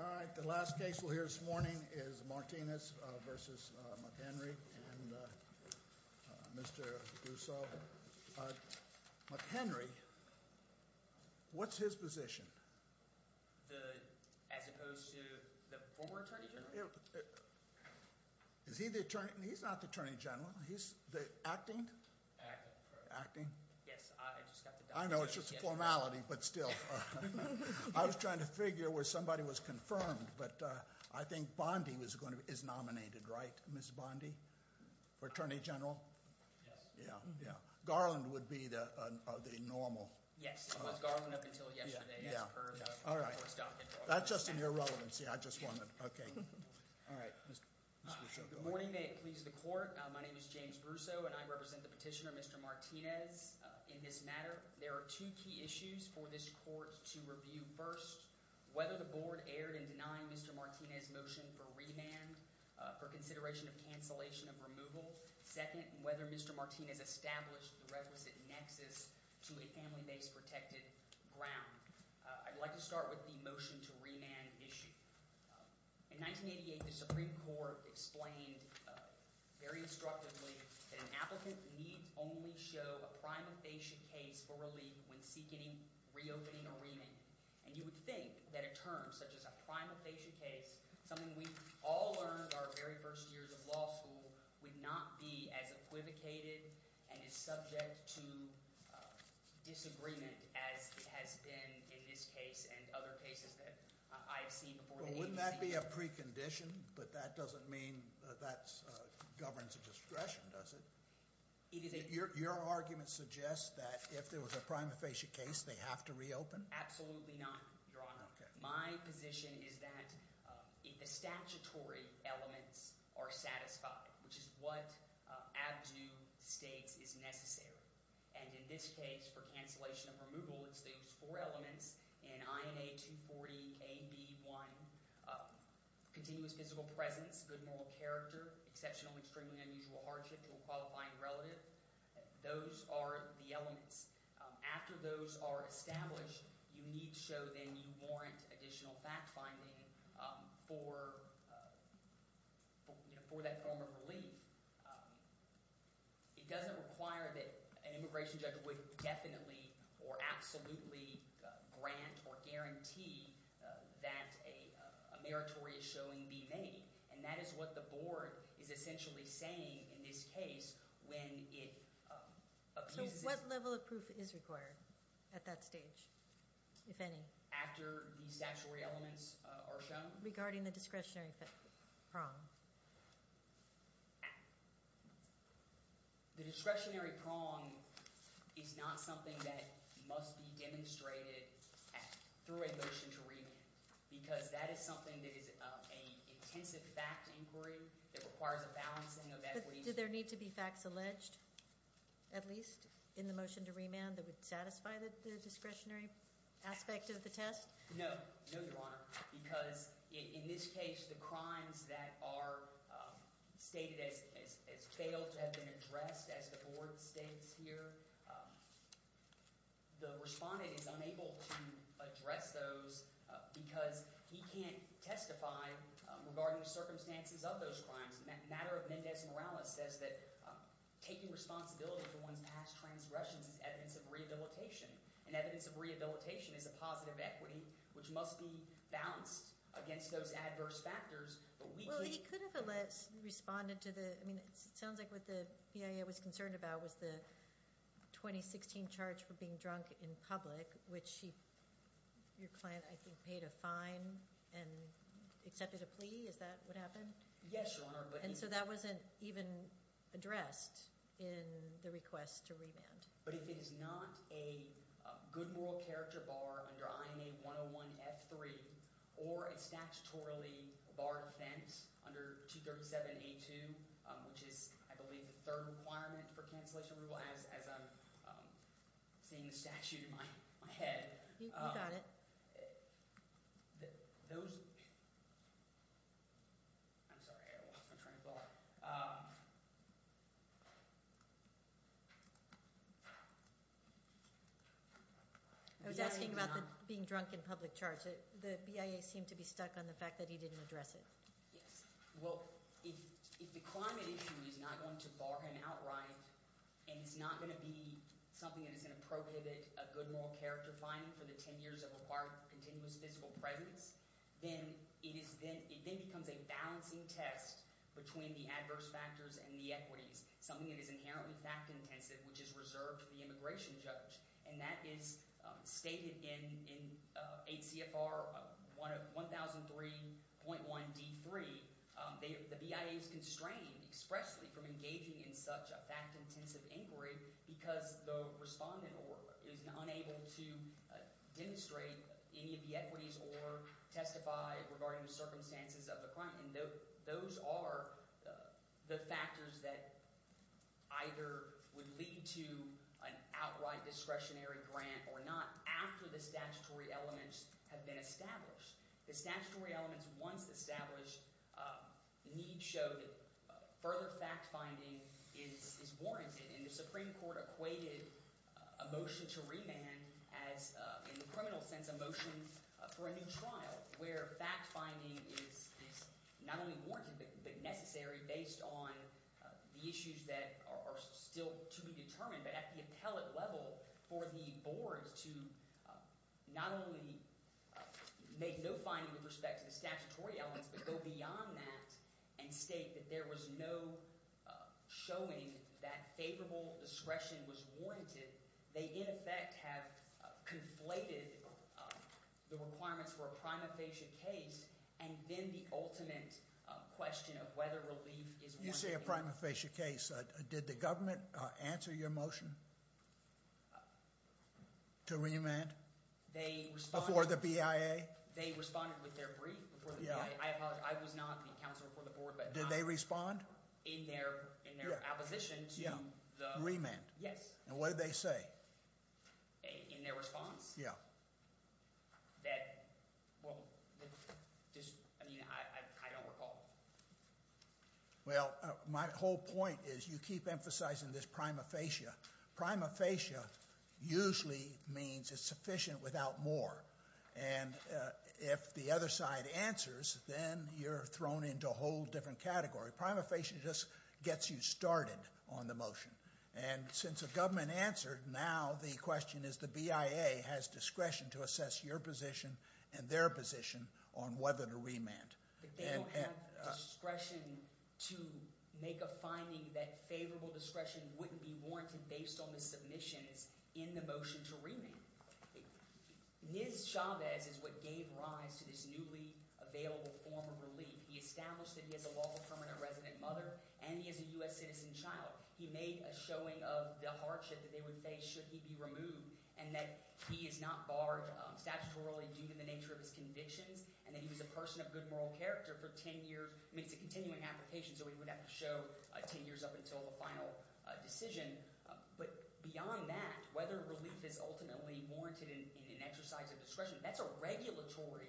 All right, the last case we'll hear this morning is Martinez v. McHenry and Mr. Dusso. McHenry, what's his position? As opposed to the former Attorney General? Is he the Attorney General? He's not the Attorney General. He's the acting? Acting, correct. Yes, I just got the documents. I know it's just a formality, but still. I was trying to figure where somebody was confirmed, but I think Bondy is nominated, right, Ms. Bondy? Attorney General? Yes. Yeah, yeah. Garland would be the normal. Yes, it was Garland up until yesterday, as per the first document. That's just in your relevancy. I just wanted, okay. All right, Mr. Dusso, go ahead. Good morning. May it please the court. My name is James Brusso, and I represent the petitioner, Mr. Martinez, in this matter. There are two key issues for this court to review. First, whether the board erred in denying Mr. Martinez's motion for remand for consideration of cancellation of removal. Second, whether Mr. Martinez established the requisite nexus to a family-based protected ground. I'd like to start with the motion to remand issue. In 1988, the Supreme Court explained very instructively that an applicant needs only show a prima facie case for relief when seeking reopening a remand. And you would think that a term such as a prima facie case, something we all learned our very first years of law school, would not be as equivocated and as subject to disagreement as it has been in this case and other cases that I have seen before. Well, wouldn't that be a precondition? But that doesn't mean that governs a discretion, does it? Your argument suggests that if there was a prima facie case, they have to reopen? Absolutely not, Your Honor. Okay. My position is that the statutory elements are satisfied, which is what ABDU states is necessary. And in this case, for cancellation of removal, it's those four elements in INA 240 AB1. Continuous physical presence, good moral character, exceptional, extremely unusual hardship to a qualifying relative. Those are the elements. After those are established, you need to show them you warrant additional fact-finding for that form of relief. It doesn't require that an immigration judge would definitely or absolutely grant or guarantee that a meritorious showing be made. And that is what the board is essentially saying in this case when it abuses – So what level of proof is required at that stage, if any? After these statutory elements are shown? Regarding the discretionary form? The discretionary prong is not something that must be demonstrated through a motion to remand because that is something that is an intensive fact inquiry that requires a balancing of that. But do there need to be facts alleged, at least, in the motion to remand that would satisfy the discretionary aspect of the test? No. No, Your Honor, because in this case, the crimes that are stated as failed to have been addressed, as the board states here, the respondent is unable to address those because he can't testify regarding the circumstances of those crimes. The matter of Mendez Morales says that taking responsibility for one's past transgressions is evidence of rehabilitation. And evidence of rehabilitation is a positive equity, which must be balanced against those adverse factors, but we can't – Well, he could have responded to the – I mean, it sounds like what the BIA was concerned about was the 2016 charge for being drunk in public, which your client, I think, paid a fine and accepted a plea. Is that what happened? Yes, Your Honor. And so that wasn't even addressed in the request to remand. But if it is not a good moral character bar under INA 101-F3 or a statutorily bar defense under 237-A2, which is, I believe, the third requirement for cancellation as I'm seeing the statute in my head. You got it. Those – I'm sorry. I lost my train of thought. I was asking about the being drunk in public charge. The BIA seemed to be stuck on the fact that he didn't address it. Yes. Well, if the climate issue is not going to bar him outright and it's not going to be something that is going to prohibit a good moral character finding for the 10 years of required continuous physical presence, then it is then – it then becomes a balancing test between the adverse factors and the equities, something that is inherently fact-intensive, which is reserved to the immigration judge. And that is stated in 8 CFR 1003.1D3. The BIA is constrained expressly from engaging in such a fact-intensive inquiry because the respondent is unable to demonstrate any of the equities or testify regarding the circumstances of the crime. And those are the factors that either would lead to an outright discretionary grant or not after the statutory elements have been established. The statutory elements once established need to show that further fact-finding is warranted, and the Supreme Court equated a motion to remand as, in the criminal sense, a motion for a new trial where fact-finding is not only warranted but necessary based on the issues that are still to be determined but at the appellate level for the board to not only make no finding with respect to the statutory elements but go beyond that and state that there was no showing that favorable discretion was warranted. They, in effect, have conflated the requirements for a prima facie case and then the ultimate question of whether relief is warranted. When you say a prima facie case, did the government answer your motion to remand before the BIA? They responded with their brief before the BIA. I apologize. I was not the counselor for the board. Did they respond? In their opposition to the… Remand. Yes. And what did they say? In their response? That, well, I mean, I don't recall. Well, my whole point is you keep emphasizing this prima facie. Prima facie usually means it's sufficient without more. And if the other side answers, then you're thrown into a whole different category. Prima facie just gets you started on the motion. And since the government answered, now the question is the BIA has discretion to assess your position and their position on whether to remand. But they don't have discretion to make a finding that favorable discretion wouldn't be warranted based on the submissions in the motion to remand. Niz Chavez is what gave rise to this newly available form of relief. He established that he has a lawful permanent resident mother and he has a U.S. citizen child. He made a showing of the hardship that they would face should he be removed and that he is not barred statutorily due to the nature of his convictions and that he was a person of good moral character for ten years. I mean it's a continuing application, so he would have to show ten years up until the final decision. But beyond that, whether relief is ultimately warranted in an exercise of discretion, that's a regulatory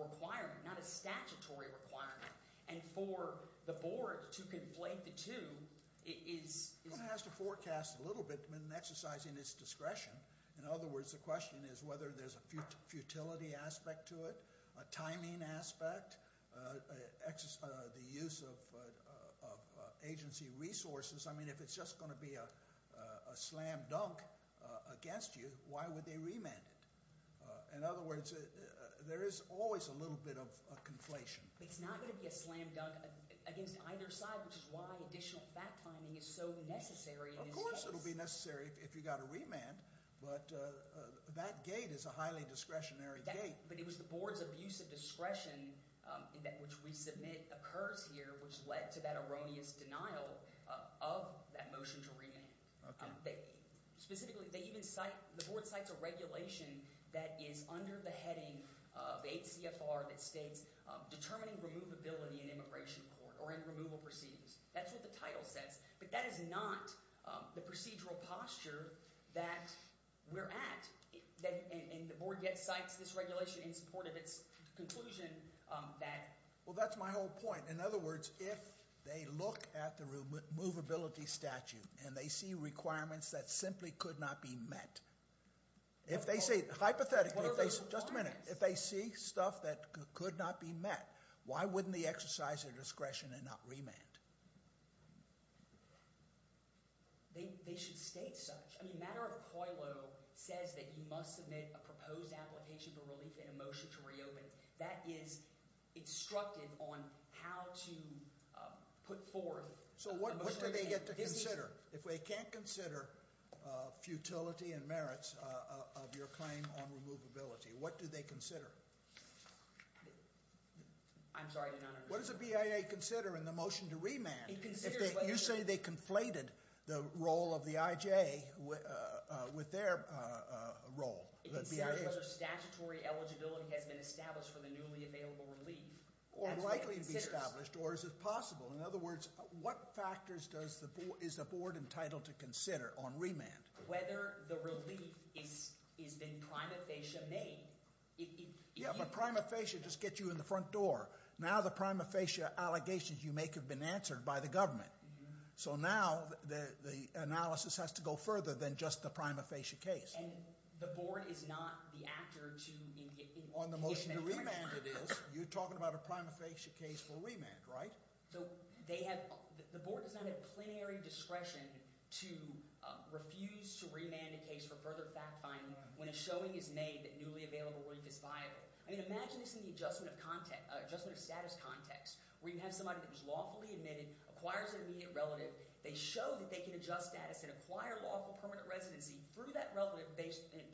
requirement, not a statutory requirement. And for the board to conflate the two is – One has to forecast a little bit when exercising its discretion. In other words, the question is whether there's a futility aspect to it, a timing aspect, the use of agency resources. I mean if it's just going to be a slam dunk against you, why would they remand it? In other words, there is always a little bit of conflation. It's not going to be a slam dunk against either side, which is why additional fact timing is so necessary in this case. Of course it will be necessary if you've got to remand, but that gate is a highly discretionary gate. But it was the board's abuse of discretion, which we submit occurs here, which led to that erroneous denial of that motion to remand. Specifically, the board cites a regulation that is under the heading of 8 CFR that states determining removability in immigration court or in removal proceedings. That's what the title says. But that is not the procedural posture that we're at, and the board yet cites this regulation in support of its conclusion that – Well, that's my whole point. In other words, if they look at the removability statute and they see requirements that simply could not be met, if they see – hypothetically – What are those requirements? If they see stuff that could not be met, why wouldn't they exercise their discretion and not remand? They should state such. I mean, the matter of COILO says that you must submit a proposed application for relief in a motion to reopen. That is instructive on how to put forth a motion to remand. So what do they get to consider? If they can't consider futility and merits of your claim on removability, what do they consider? I'm sorry, I did not understand. What does a BIA consider in the motion to remand? You say they conflated the role of the IJ with their role. It considers whether statutory eligibility has been established for the newly available relief. Or likely to be established, or is it possible? In other words, what factors is the board entitled to consider on remand? Whether the relief has been prima facie made. Yeah, but prima facie just gets you in the front door. Now the prima facie allegations you make have been answered by the government. So now the analysis has to go further than just the prima facie case. And the board is not the actor to – On the motion to remand it is. You're talking about a prima facie case for remand, right? So the board does not have plenary discretion to refuse to remand a case for further fact-finding when a showing is made that newly available relief is viable. I mean imagine this in the adjustment of status context where you have somebody that was lawfully admitted, acquires an immediate relative. They show that they can adjust status and acquire lawful permanent residency through that relative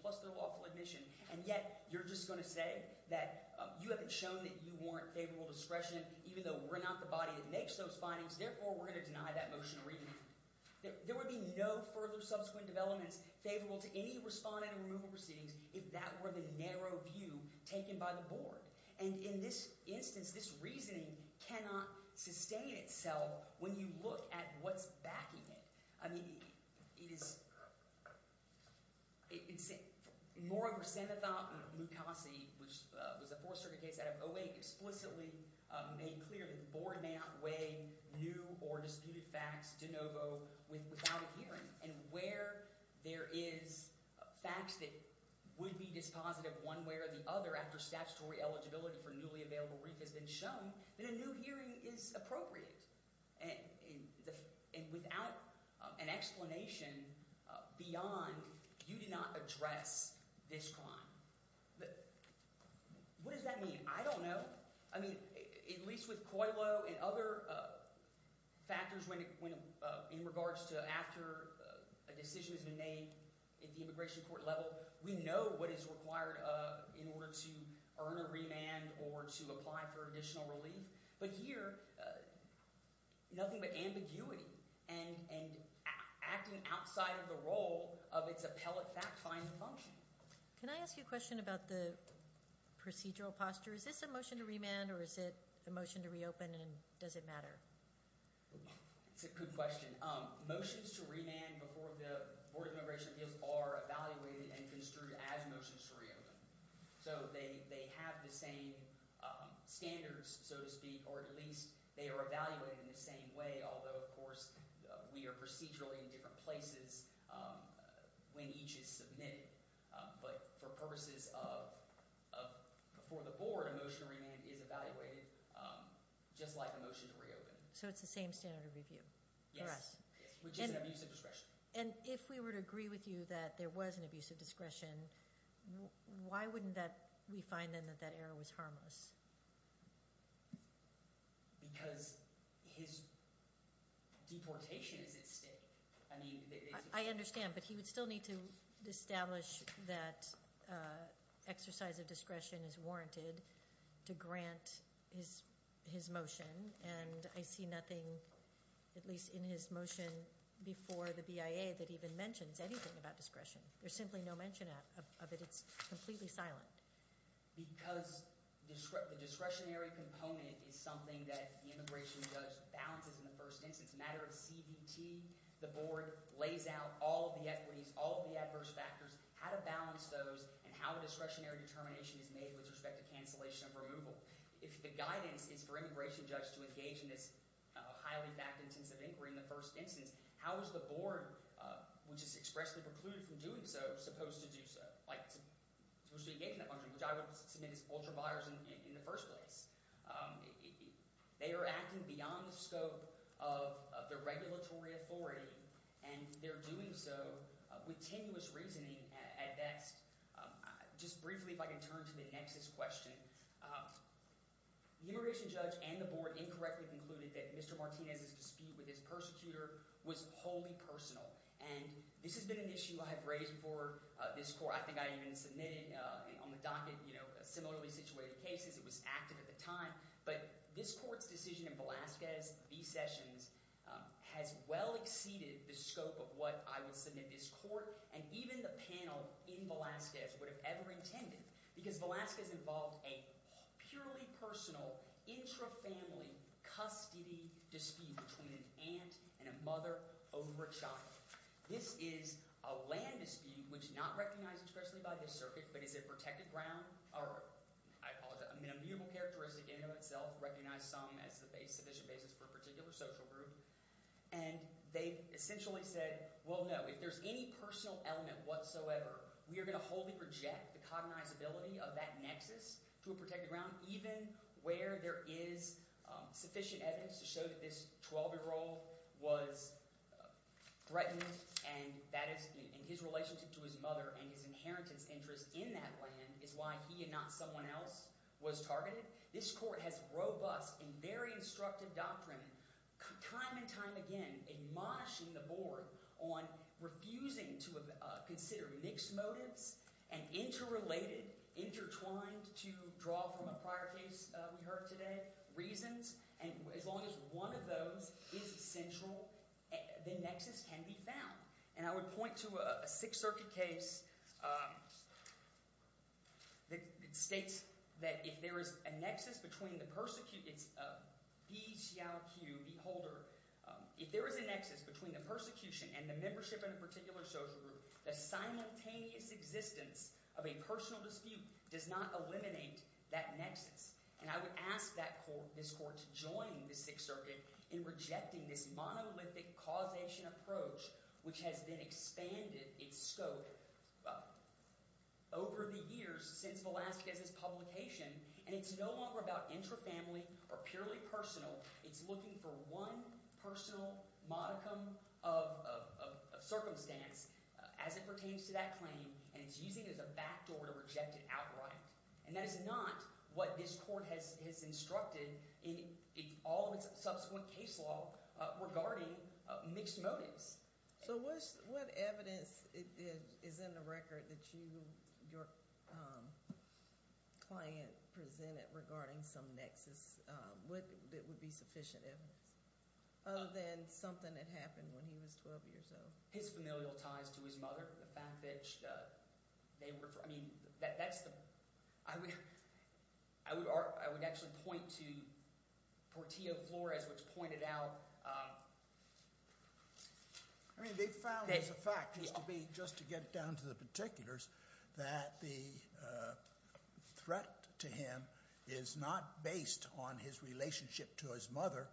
plus their lawful admission. And yet you're just going to say that you haven't shown that you warrant favorable discretion even though we're not the body that makes those findings. Therefore, we're going to deny that motion to remand. There would be no further subsequent developments favorable to any respondent removal proceedings if that were the narrow view taken by the board. And in this instance, this reasoning cannot sustain itself when you look at what's backing it. I mean it is – moreover, Samathop and Mukasey, which was a fourth circuit case out of 08, explicitly made clear that the board may not weigh new or disputed facts de novo without a hearing. And where there is facts that would be dispositive one way or the other after statutory eligibility for newly available relief has been shown, then a new hearing is appropriate. And without an explanation beyond, you did not address this crime. What does that mean? I don't know. I mean at least with COILO and other factors in regards to after a decision has been made at the immigration court level, we know what is required in order to earn a remand or to apply for additional relief. But here, nothing but ambiguity and acting outside of the role of its appellate fact-finding function. Can I ask you a question about the procedural posture? Is this a motion to remand or is it a motion to reopen and does it matter? It's a good question. Motions to remand before the Board of Immigration Appeals are evaluated and construed as motions to reopen. So they have the same standards, so to speak, or at least they are evaluated in the same way. Although, of course, we are procedurally in different places when each is submitted. But for purposes of before the Board, a motion to remand is evaluated just like a motion to reopen. So it's the same standard of review for us? Yes, which is an abuse of discretion. And if we were to agree with you that there was an abuse of discretion, why wouldn't we find then that that error was harmless? Because his deportation is at stake. I understand, but he would still need to establish that exercise of discretion is warranted to grant his motion. And I see nothing, at least in his motion before the BIA, that even mentions anything about discretion. There's simply no mention of it. It's completely silent. Because the discretionary component is something that the immigration judge balances in the first instance. A matter of CDT, the board lays out all of the equities, all of the adverse factors, how to balance those, and how a discretionary determination is made with respect to cancellation of removal. If the guidance is for immigration judge to engage in this highly fact-intensive inquiry in the first instance, how is the board, which is expressly precluded from doing so, supposed to do so? Like, supposed to engage in that function, which I would submit is ultra-biasing in the first place. They are acting beyond the scope of the regulatory authority, and they're doing so with tenuous reasoning at best. Just briefly, if I can turn to the next question. The immigration judge and the board incorrectly concluded that Mr. Martinez's dispute with his persecutor was wholly personal. And this has been an issue I have raised before this court. I think I even submitted on the docket similarly situated cases. It was active at the time. But this court's decision in Velazquez v. Sessions has well exceeded the scope of what I would submit this court and even the panel in Velazquez would have ever intended because Velazquez involved a purely personal, intra-family custody dispute between an aunt and a mother over a child. This is a land dispute, which is not recognized expressly by this circuit, but is a protected ground – or I apologize, a mutable characteristic in and of itself, recognized some as a sufficient basis for a particular social group. And they essentially said, well, no, if there's any personal element whatsoever, we are going to wholly reject the cognizability of that nexus to a protected ground, even where there is sufficient evidence to show that this 12-year-old was threatened. And that is – and his relationship to his mother and his inheritance interest in that land is why he and not someone else was targeted. This court has robust and very instructive doctrine time and time again admonishing the board on refusing to consider mixed motives and interrelated, intertwined, to draw from a prior case we heard today, reasons. And as long as one of those is essential, the nexus can be found. And I would point to a Sixth Circuit case that states that if there is a nexus between the – it's B. Xiao-Q, B. Holder. If there is a nexus between the persecution and the membership in a particular social group, the simultaneous existence of a personal dispute does not eliminate that nexus. And I would ask this court to join the Sixth Circuit in rejecting this monolithic causation approach, which has then expanded its scope over the years since Velazquez's publication, and it's no longer about intrafamily or purely personal. It's looking for one personal modicum of circumstance as it pertains to that claim, and it's using it as a backdoor to reject it outright. And that is not what this court has instructed in all of its subsequent case law regarding mixed motives. So what evidence is in the record that you – your client presented regarding some nexus that would be sufficient evidence other than something that happened when he was 12 years old? His familial ties to his mother, the fact that they were – I mean that's the – I would actually point to Portillo Flores, which pointed out… I mean they found as a fact just to be – just to get down to the particulars that the threat to him is not based on his relationship to his mother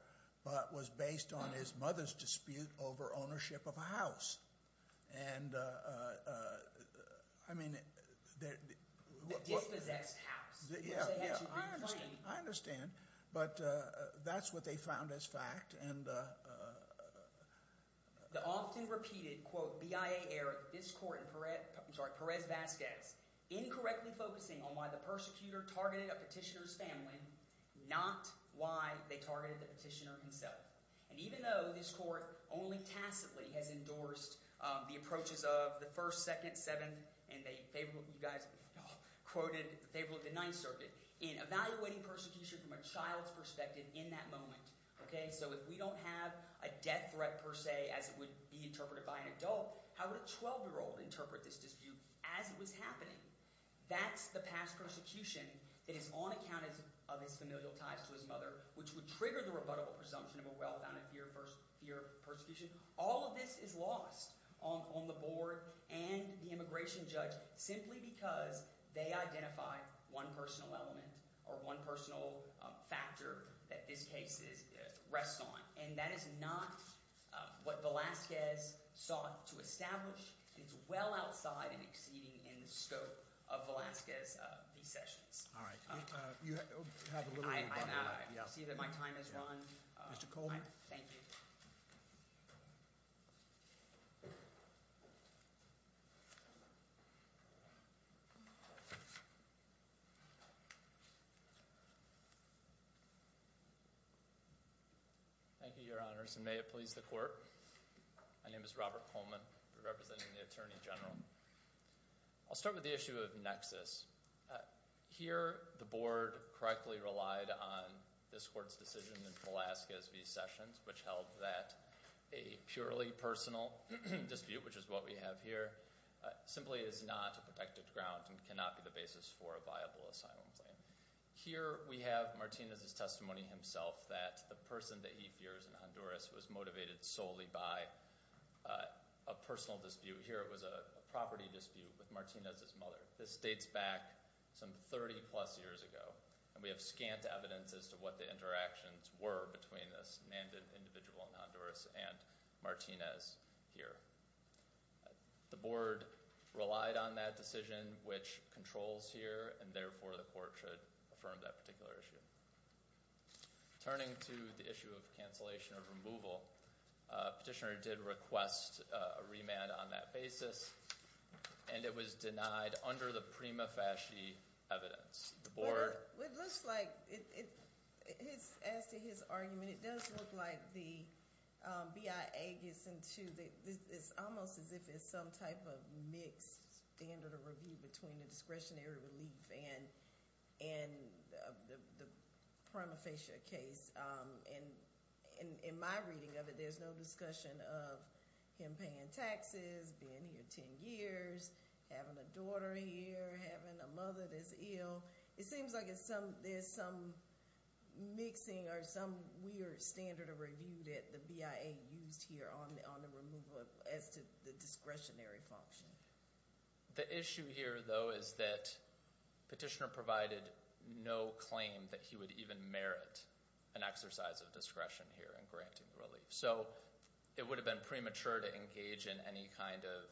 but was based on his mother's dispute over ownership of a house. And I mean… The dispossessed house, which they had to reclaim. I understand, but that's what they found as fact. The often-repeated, quote, BIA error of this court in Perez-Vazquez, incorrectly focusing on why the persecutor targeted a petitioner's family, not why they targeted the petitioner himself. And even though this court only tacitly has endorsed the approaches of the First, Second, Seventh, and they favor – you guys quoted favorably the Ninth Circuit in evaluating persecution from a child's perspective in that moment. So if we don't have a death threat per se as it would be interpreted by an adult, how would a 12-year-old interpret this dispute as it was happening? That's the past persecution that is on account of his familial ties to his mother, which would trigger the rebuttable presumption of a well-founded fear of persecution. All of this is lost on the board and the immigration judge simply because they identify one personal element or one personal factor that this case rests on. And that is not what Velazquez sought to establish. It's well outside and exceeding in the scope of Velazquez's sessions. All right. You have a little bit of time left. I know. I see that my time has run. Mr. Coleman. Thank you. Thank you, Your Honors, and may it please the court. My name is Robert Coleman. I'm representing the Attorney General. I'll start with the issue of nexus. Here the board correctly relied on this court's decision in Velazquez v. Sessions, which held that a purely personal dispute, which is what we have here, simply is not a protected ground and cannot be the basis for a viable asylum claim. Here we have Martinez's testimony himself that the person that he fears in Honduras was motivated solely by a personal dispute. Here it was a property dispute with Martinez's mother. This dates back some 30-plus years ago, and we have scant evidence as to what the interactions were between this manned individual in Honduras and Martinez here. The board relied on that decision, which controls here, and therefore the court should affirm that particular issue. Turning to the issue of cancellation of removal, petitioner did request a remand on that basis, and it was denied under the prima facie evidence. It looks like, as to his argument, it does look like the BIA gets into, it's almost as if it's some type of mixed standard of review between the discretionary relief and the prima facie case. In my reading of it, there's no discussion of him paying taxes, being here 10 years, having a daughter here, having a mother that's ill. It seems like there's some mixing or some weird standard of review that the BIA used here on the removal as to the discretionary function. The issue here, though, is that petitioner provided no claim that he would even merit an exercise of discretion here in granting relief. It would have been premature to engage in any kind of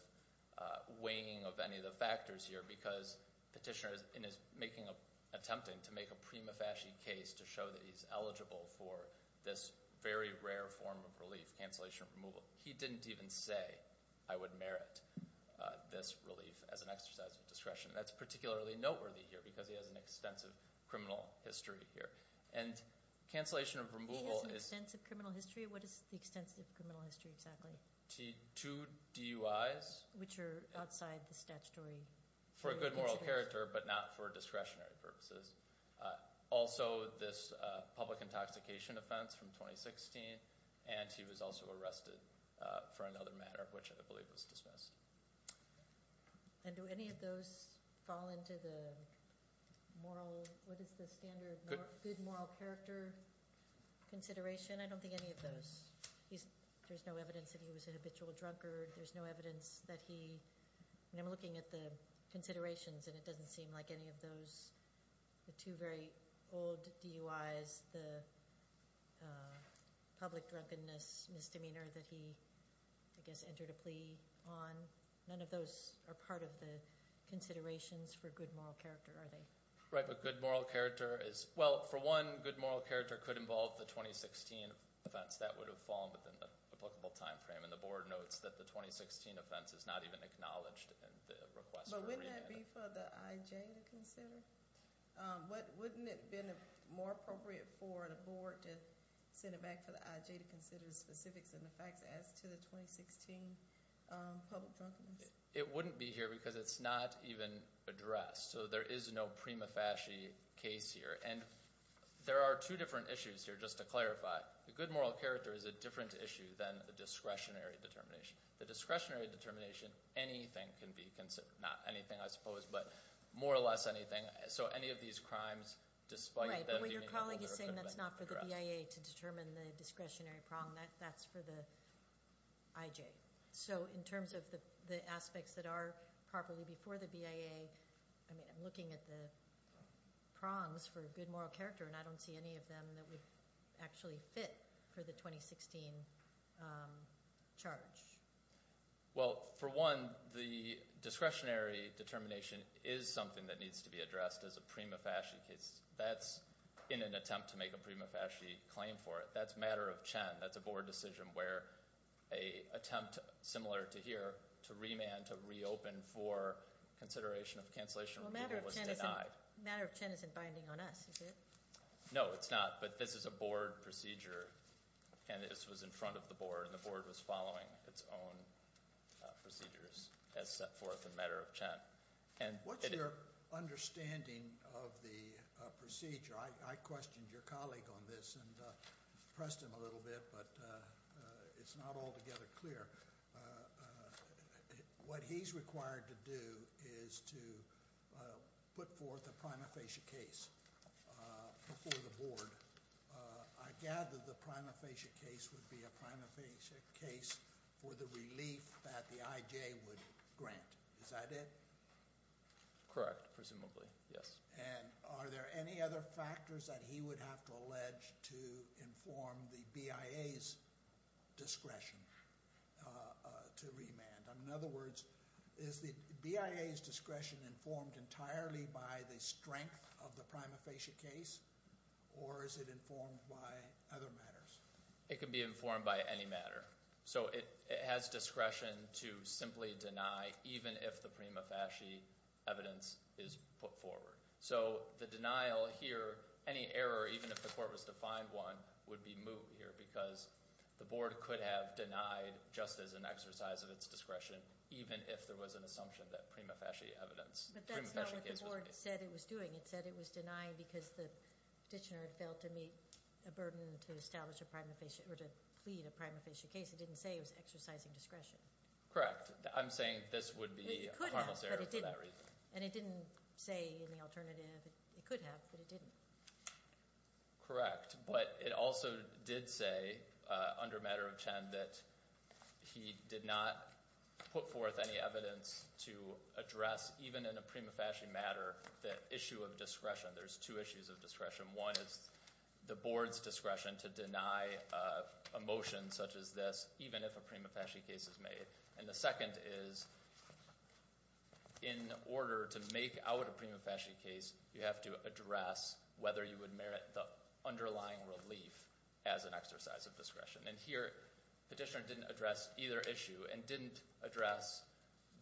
weighing of any of the factors here because petitioner is attempting to make a prima facie case to show that he's eligible for this very rare form of relief, cancellation of removal. He didn't even say, I would merit this relief as an exercise of discretion. That's particularly noteworthy here because he has an extensive criminal history here. And cancellation of removal is- He has an extensive criminal history? What is the extensive criminal history exactly? Two DUIs. Which are outside the statutory- For a good moral character, but not for discretionary purposes. Also, this public intoxication offense from 2016. And he was also arrested for another matter, which I believe was dismissed. And do any of those fall into the moral- What is the standard good moral character consideration? I don't think any of those. There's no evidence that he was an habitual drunkard. There's no evidence that he- And I'm looking at the considerations and it doesn't seem like any of those, the two very old DUIs, the public drunkenness misdemeanor that he, I guess, entered a plea on. None of those are part of the considerations for good moral character, are they? Right, but good moral character is- Well, for one, good moral character could involve the 2016 offense. That would have fallen within the applicable time frame. And the board notes that the 2016 offense is not even acknowledged in the request for remand. But wouldn't that be for the IJ to consider? Wouldn't it have been more appropriate for the board to send it back to the IJ to consider the specifics and the facts as to the 2016 public drunkenness? It wouldn't be here because it's not even addressed. So there is no prima facie case here. And there are two different issues here, just to clarify. The good moral character is a different issue than the discretionary determination. The discretionary determination, anything can be considered. Not anything, I suppose, but more or less anything. So any of these crimes, despite them- Right, but what your colleague is saying, that's not for the BIA to determine the discretionary prong. That's for the IJ. Okay, so in terms of the aspects that are properly before the BIA, I'm looking at the prongs for good moral character, and I don't see any of them that would actually fit for the 2016 charge. Well, for one, the discretionary determination is something that needs to be addressed as a prima facie case. That's in an attempt to make a prima facie claim for it. That's matter of Chen. That's a board decision where an attempt, similar to here, to remand, to reopen for consideration of cancellation was denied. Matter of Chen isn't binding on us, is it? No, it's not, but this is a board procedure, and this was in front of the board, and the board was following its own procedures as set forth in matter of Chen. What's your understanding of the procedure? I questioned your colleague on this and pressed him a little bit, but it's not altogether clear. What he's required to do is to put forth a prima facie case before the board. I gather the prima facie case would be a prima facie case for the relief that the IJ would grant. Is that it? Correct, presumably, yes. Are there any other factors that he would have to allege to inform the BIA's discretion to remand? In other words, is the BIA's discretion informed entirely by the strength of the prima facie case, or is it informed by other matters? It can be informed by any matter. So it has discretion to simply deny, even if the prima facie evidence is put forward. So the denial here, any error, even if the court was to find one, would be moot here, because the board could have denied just as an exercise of its discretion, even if there was an assumption that prima facie evidence, prima facie case was made. The board said it was doing. It said it was denying because the petitioner had failed to meet a burden to establish a prima facie or to plead a prima facie case. It didn't say it was exercising discretion. Correct. I'm saying this would be a harmless error for that reason. And it didn't say in the alternative it could have, but it didn't. Correct. But it also did say under matter of Chen that he did not put forth any evidence to address, even in a prima facie matter, the issue of discretion. There's two issues of discretion. One is the board's discretion to deny a motion such as this, even if a prima facie case is made. And the second is in order to make out a prima facie case, you have to address whether you would merit the underlying relief as an exercise of discretion. And here petitioner didn't address either issue and didn't address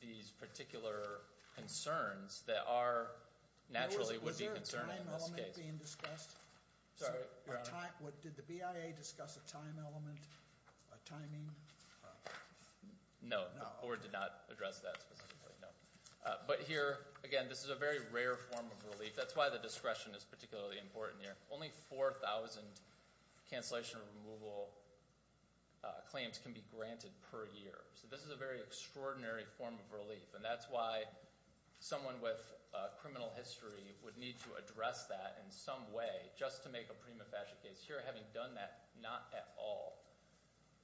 these particular concerns that are naturally would be concerning in this case. Was there a time element being discussed? Sorry, Your Honor. Did the BIA discuss a time element, a timing? No, the board did not address that specifically, no. But here, again, this is a very rare form of relief. That's why the discretion is particularly important here. Only 4,000 cancellation removal claims can be granted per year. So this is a very extraordinary form of relief. And that's why someone with criminal history would need to address that in some way just to make a prima facie case. Here, having done that, not at all.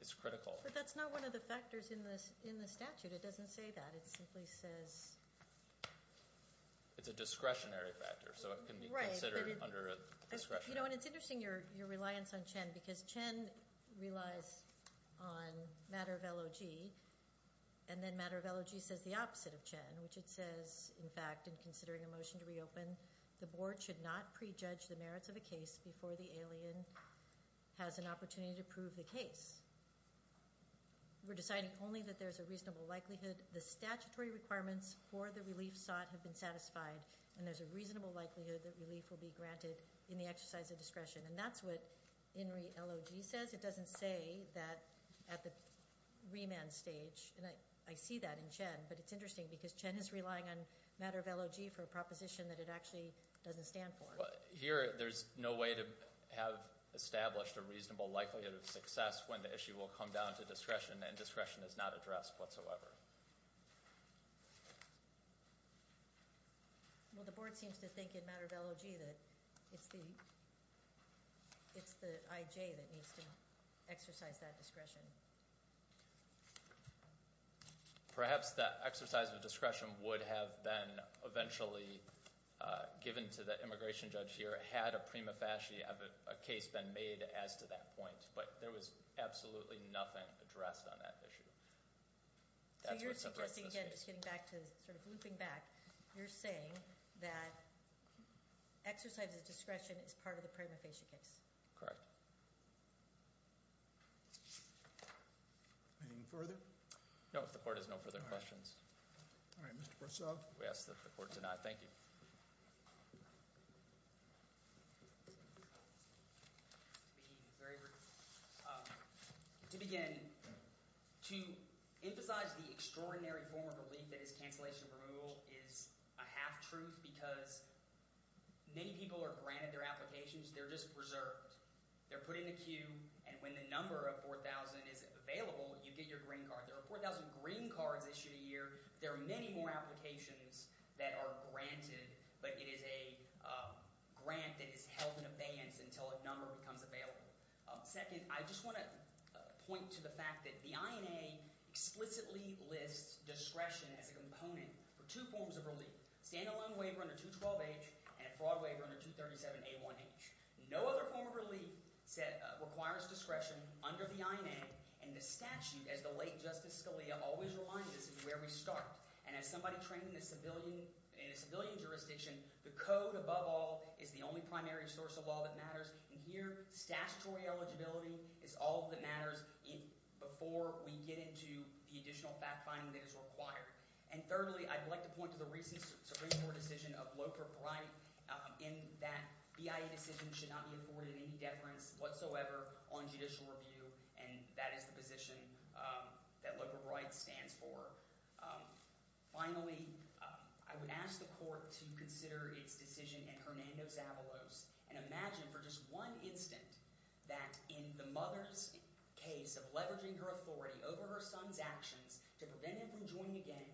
It's critical. But that's not one of the factors in the statute. It doesn't say that. It simply says. It's a discretionary factor, so it can be considered under a discretionary. You know, and it's interesting, your reliance on Chen, because Chen relies on matter of LOG. And then matter of LOG says the opposite of Chen, which it says, in fact, in considering a motion to reopen, the board should not prejudge the merits of a case before the alien has an opportunity to prove the case. We're deciding only that there's a reasonable likelihood the statutory requirements for the relief sought have been satisfied. And there's a reasonable likelihood that relief will be granted in the exercise of discretion. And that's what LOG says. It doesn't say that at the remand stage. And I see that in Chen. But it's interesting, because Chen is relying on matter of LOG for a proposition that it actually doesn't stand for. Here, there's no way to have established a reasonable likelihood of success when the issue will come down to discretion, and discretion is not addressed whatsoever. Well, the board seems to think in matter of LOG that it's the IJ that needs to exercise that discretion. Perhaps that exercise of discretion would have been eventually given to the immigration judge here, had a prima facie case been made as to that point. But there was absolutely nothing addressed on that issue. So you're suggesting, again, just getting back to sort of looping back, you're saying that exercise of discretion is part of the prima facie case. Correct. Anything further? No, the court has no further questions. All right. Mr. Brasov. We ask that the court deny. Thank you. To begin, to emphasize the extraordinary form of relief that is cancellation of removal is a half-truth, because many people are granted their applications. They're just reserved. They're put in a queue, and when the number of 4,000 is available, you get your green card. There are 4,000 green cards issued a year. There are many more applications that are granted, but it is a grant that is held in abeyance until a number becomes available. Second, I just want to point to the fact that the INA explicitly lists discretion as a component for two forms of relief, a standalone waiver under 212H and a fraud waiver under 237A1H. No other form of relief requires discretion under the INA, and the statute, as the late Justice Scalia always reminds us, is where we start. And as somebody trained in a civilian jurisdiction, the code above all is the only primary source of law that matters, and here statutory eligibility is all that matters before we get into the additional fact-finding that is required. And thirdly, I'd like to point to the recent Supreme Court decision of Loper-Bright in that BIA decisions should not be afforded any deference whatsoever on judicial review, and that is the position that Loper-Bright stands for. Finally, I would ask the court to consider its decision in Hernando's Avalos and imagine for just one instant that in the mother's case of leveraging her authority over her son's actions to prevent him from joining a gang,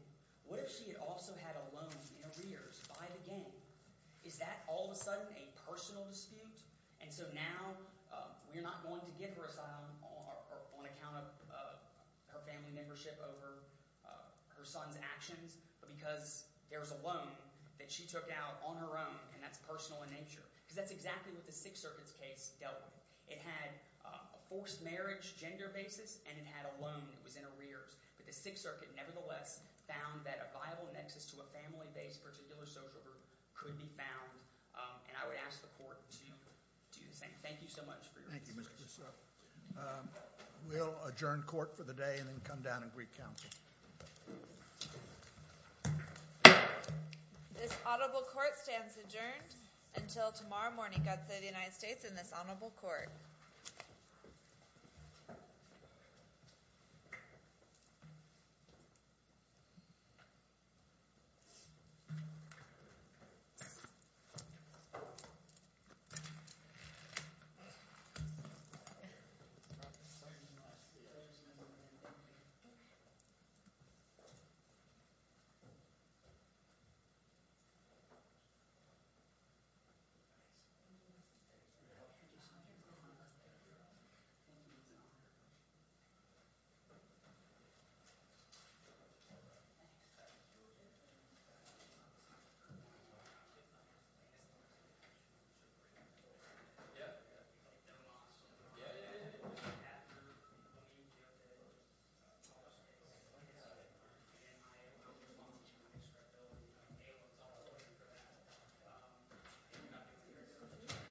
what if she had also had a loan in arrears by the gang? Is that all of a sudden a personal dispute? And so now we're not going to give her asylum on account of her family membership over her son's actions, but because there was a loan that she took out on her own, and that's personal in nature, because that's exactly what the Sixth Circuit's case dealt with. It had a forced marriage, gender basis, and it had a loan that was in arrears. But the Sixth Circuit nevertheless found that a viable nexus to a family-based particular social group could be found, and I would ask the court to do the same. Thank you so much for your patience. Thank you, Mr. Briscoe. We'll adjourn court for the day and then come down and recount. This audible court stands adjourned until tomorrow morning. God save the United States and this honorable court. Thank you. Thank you.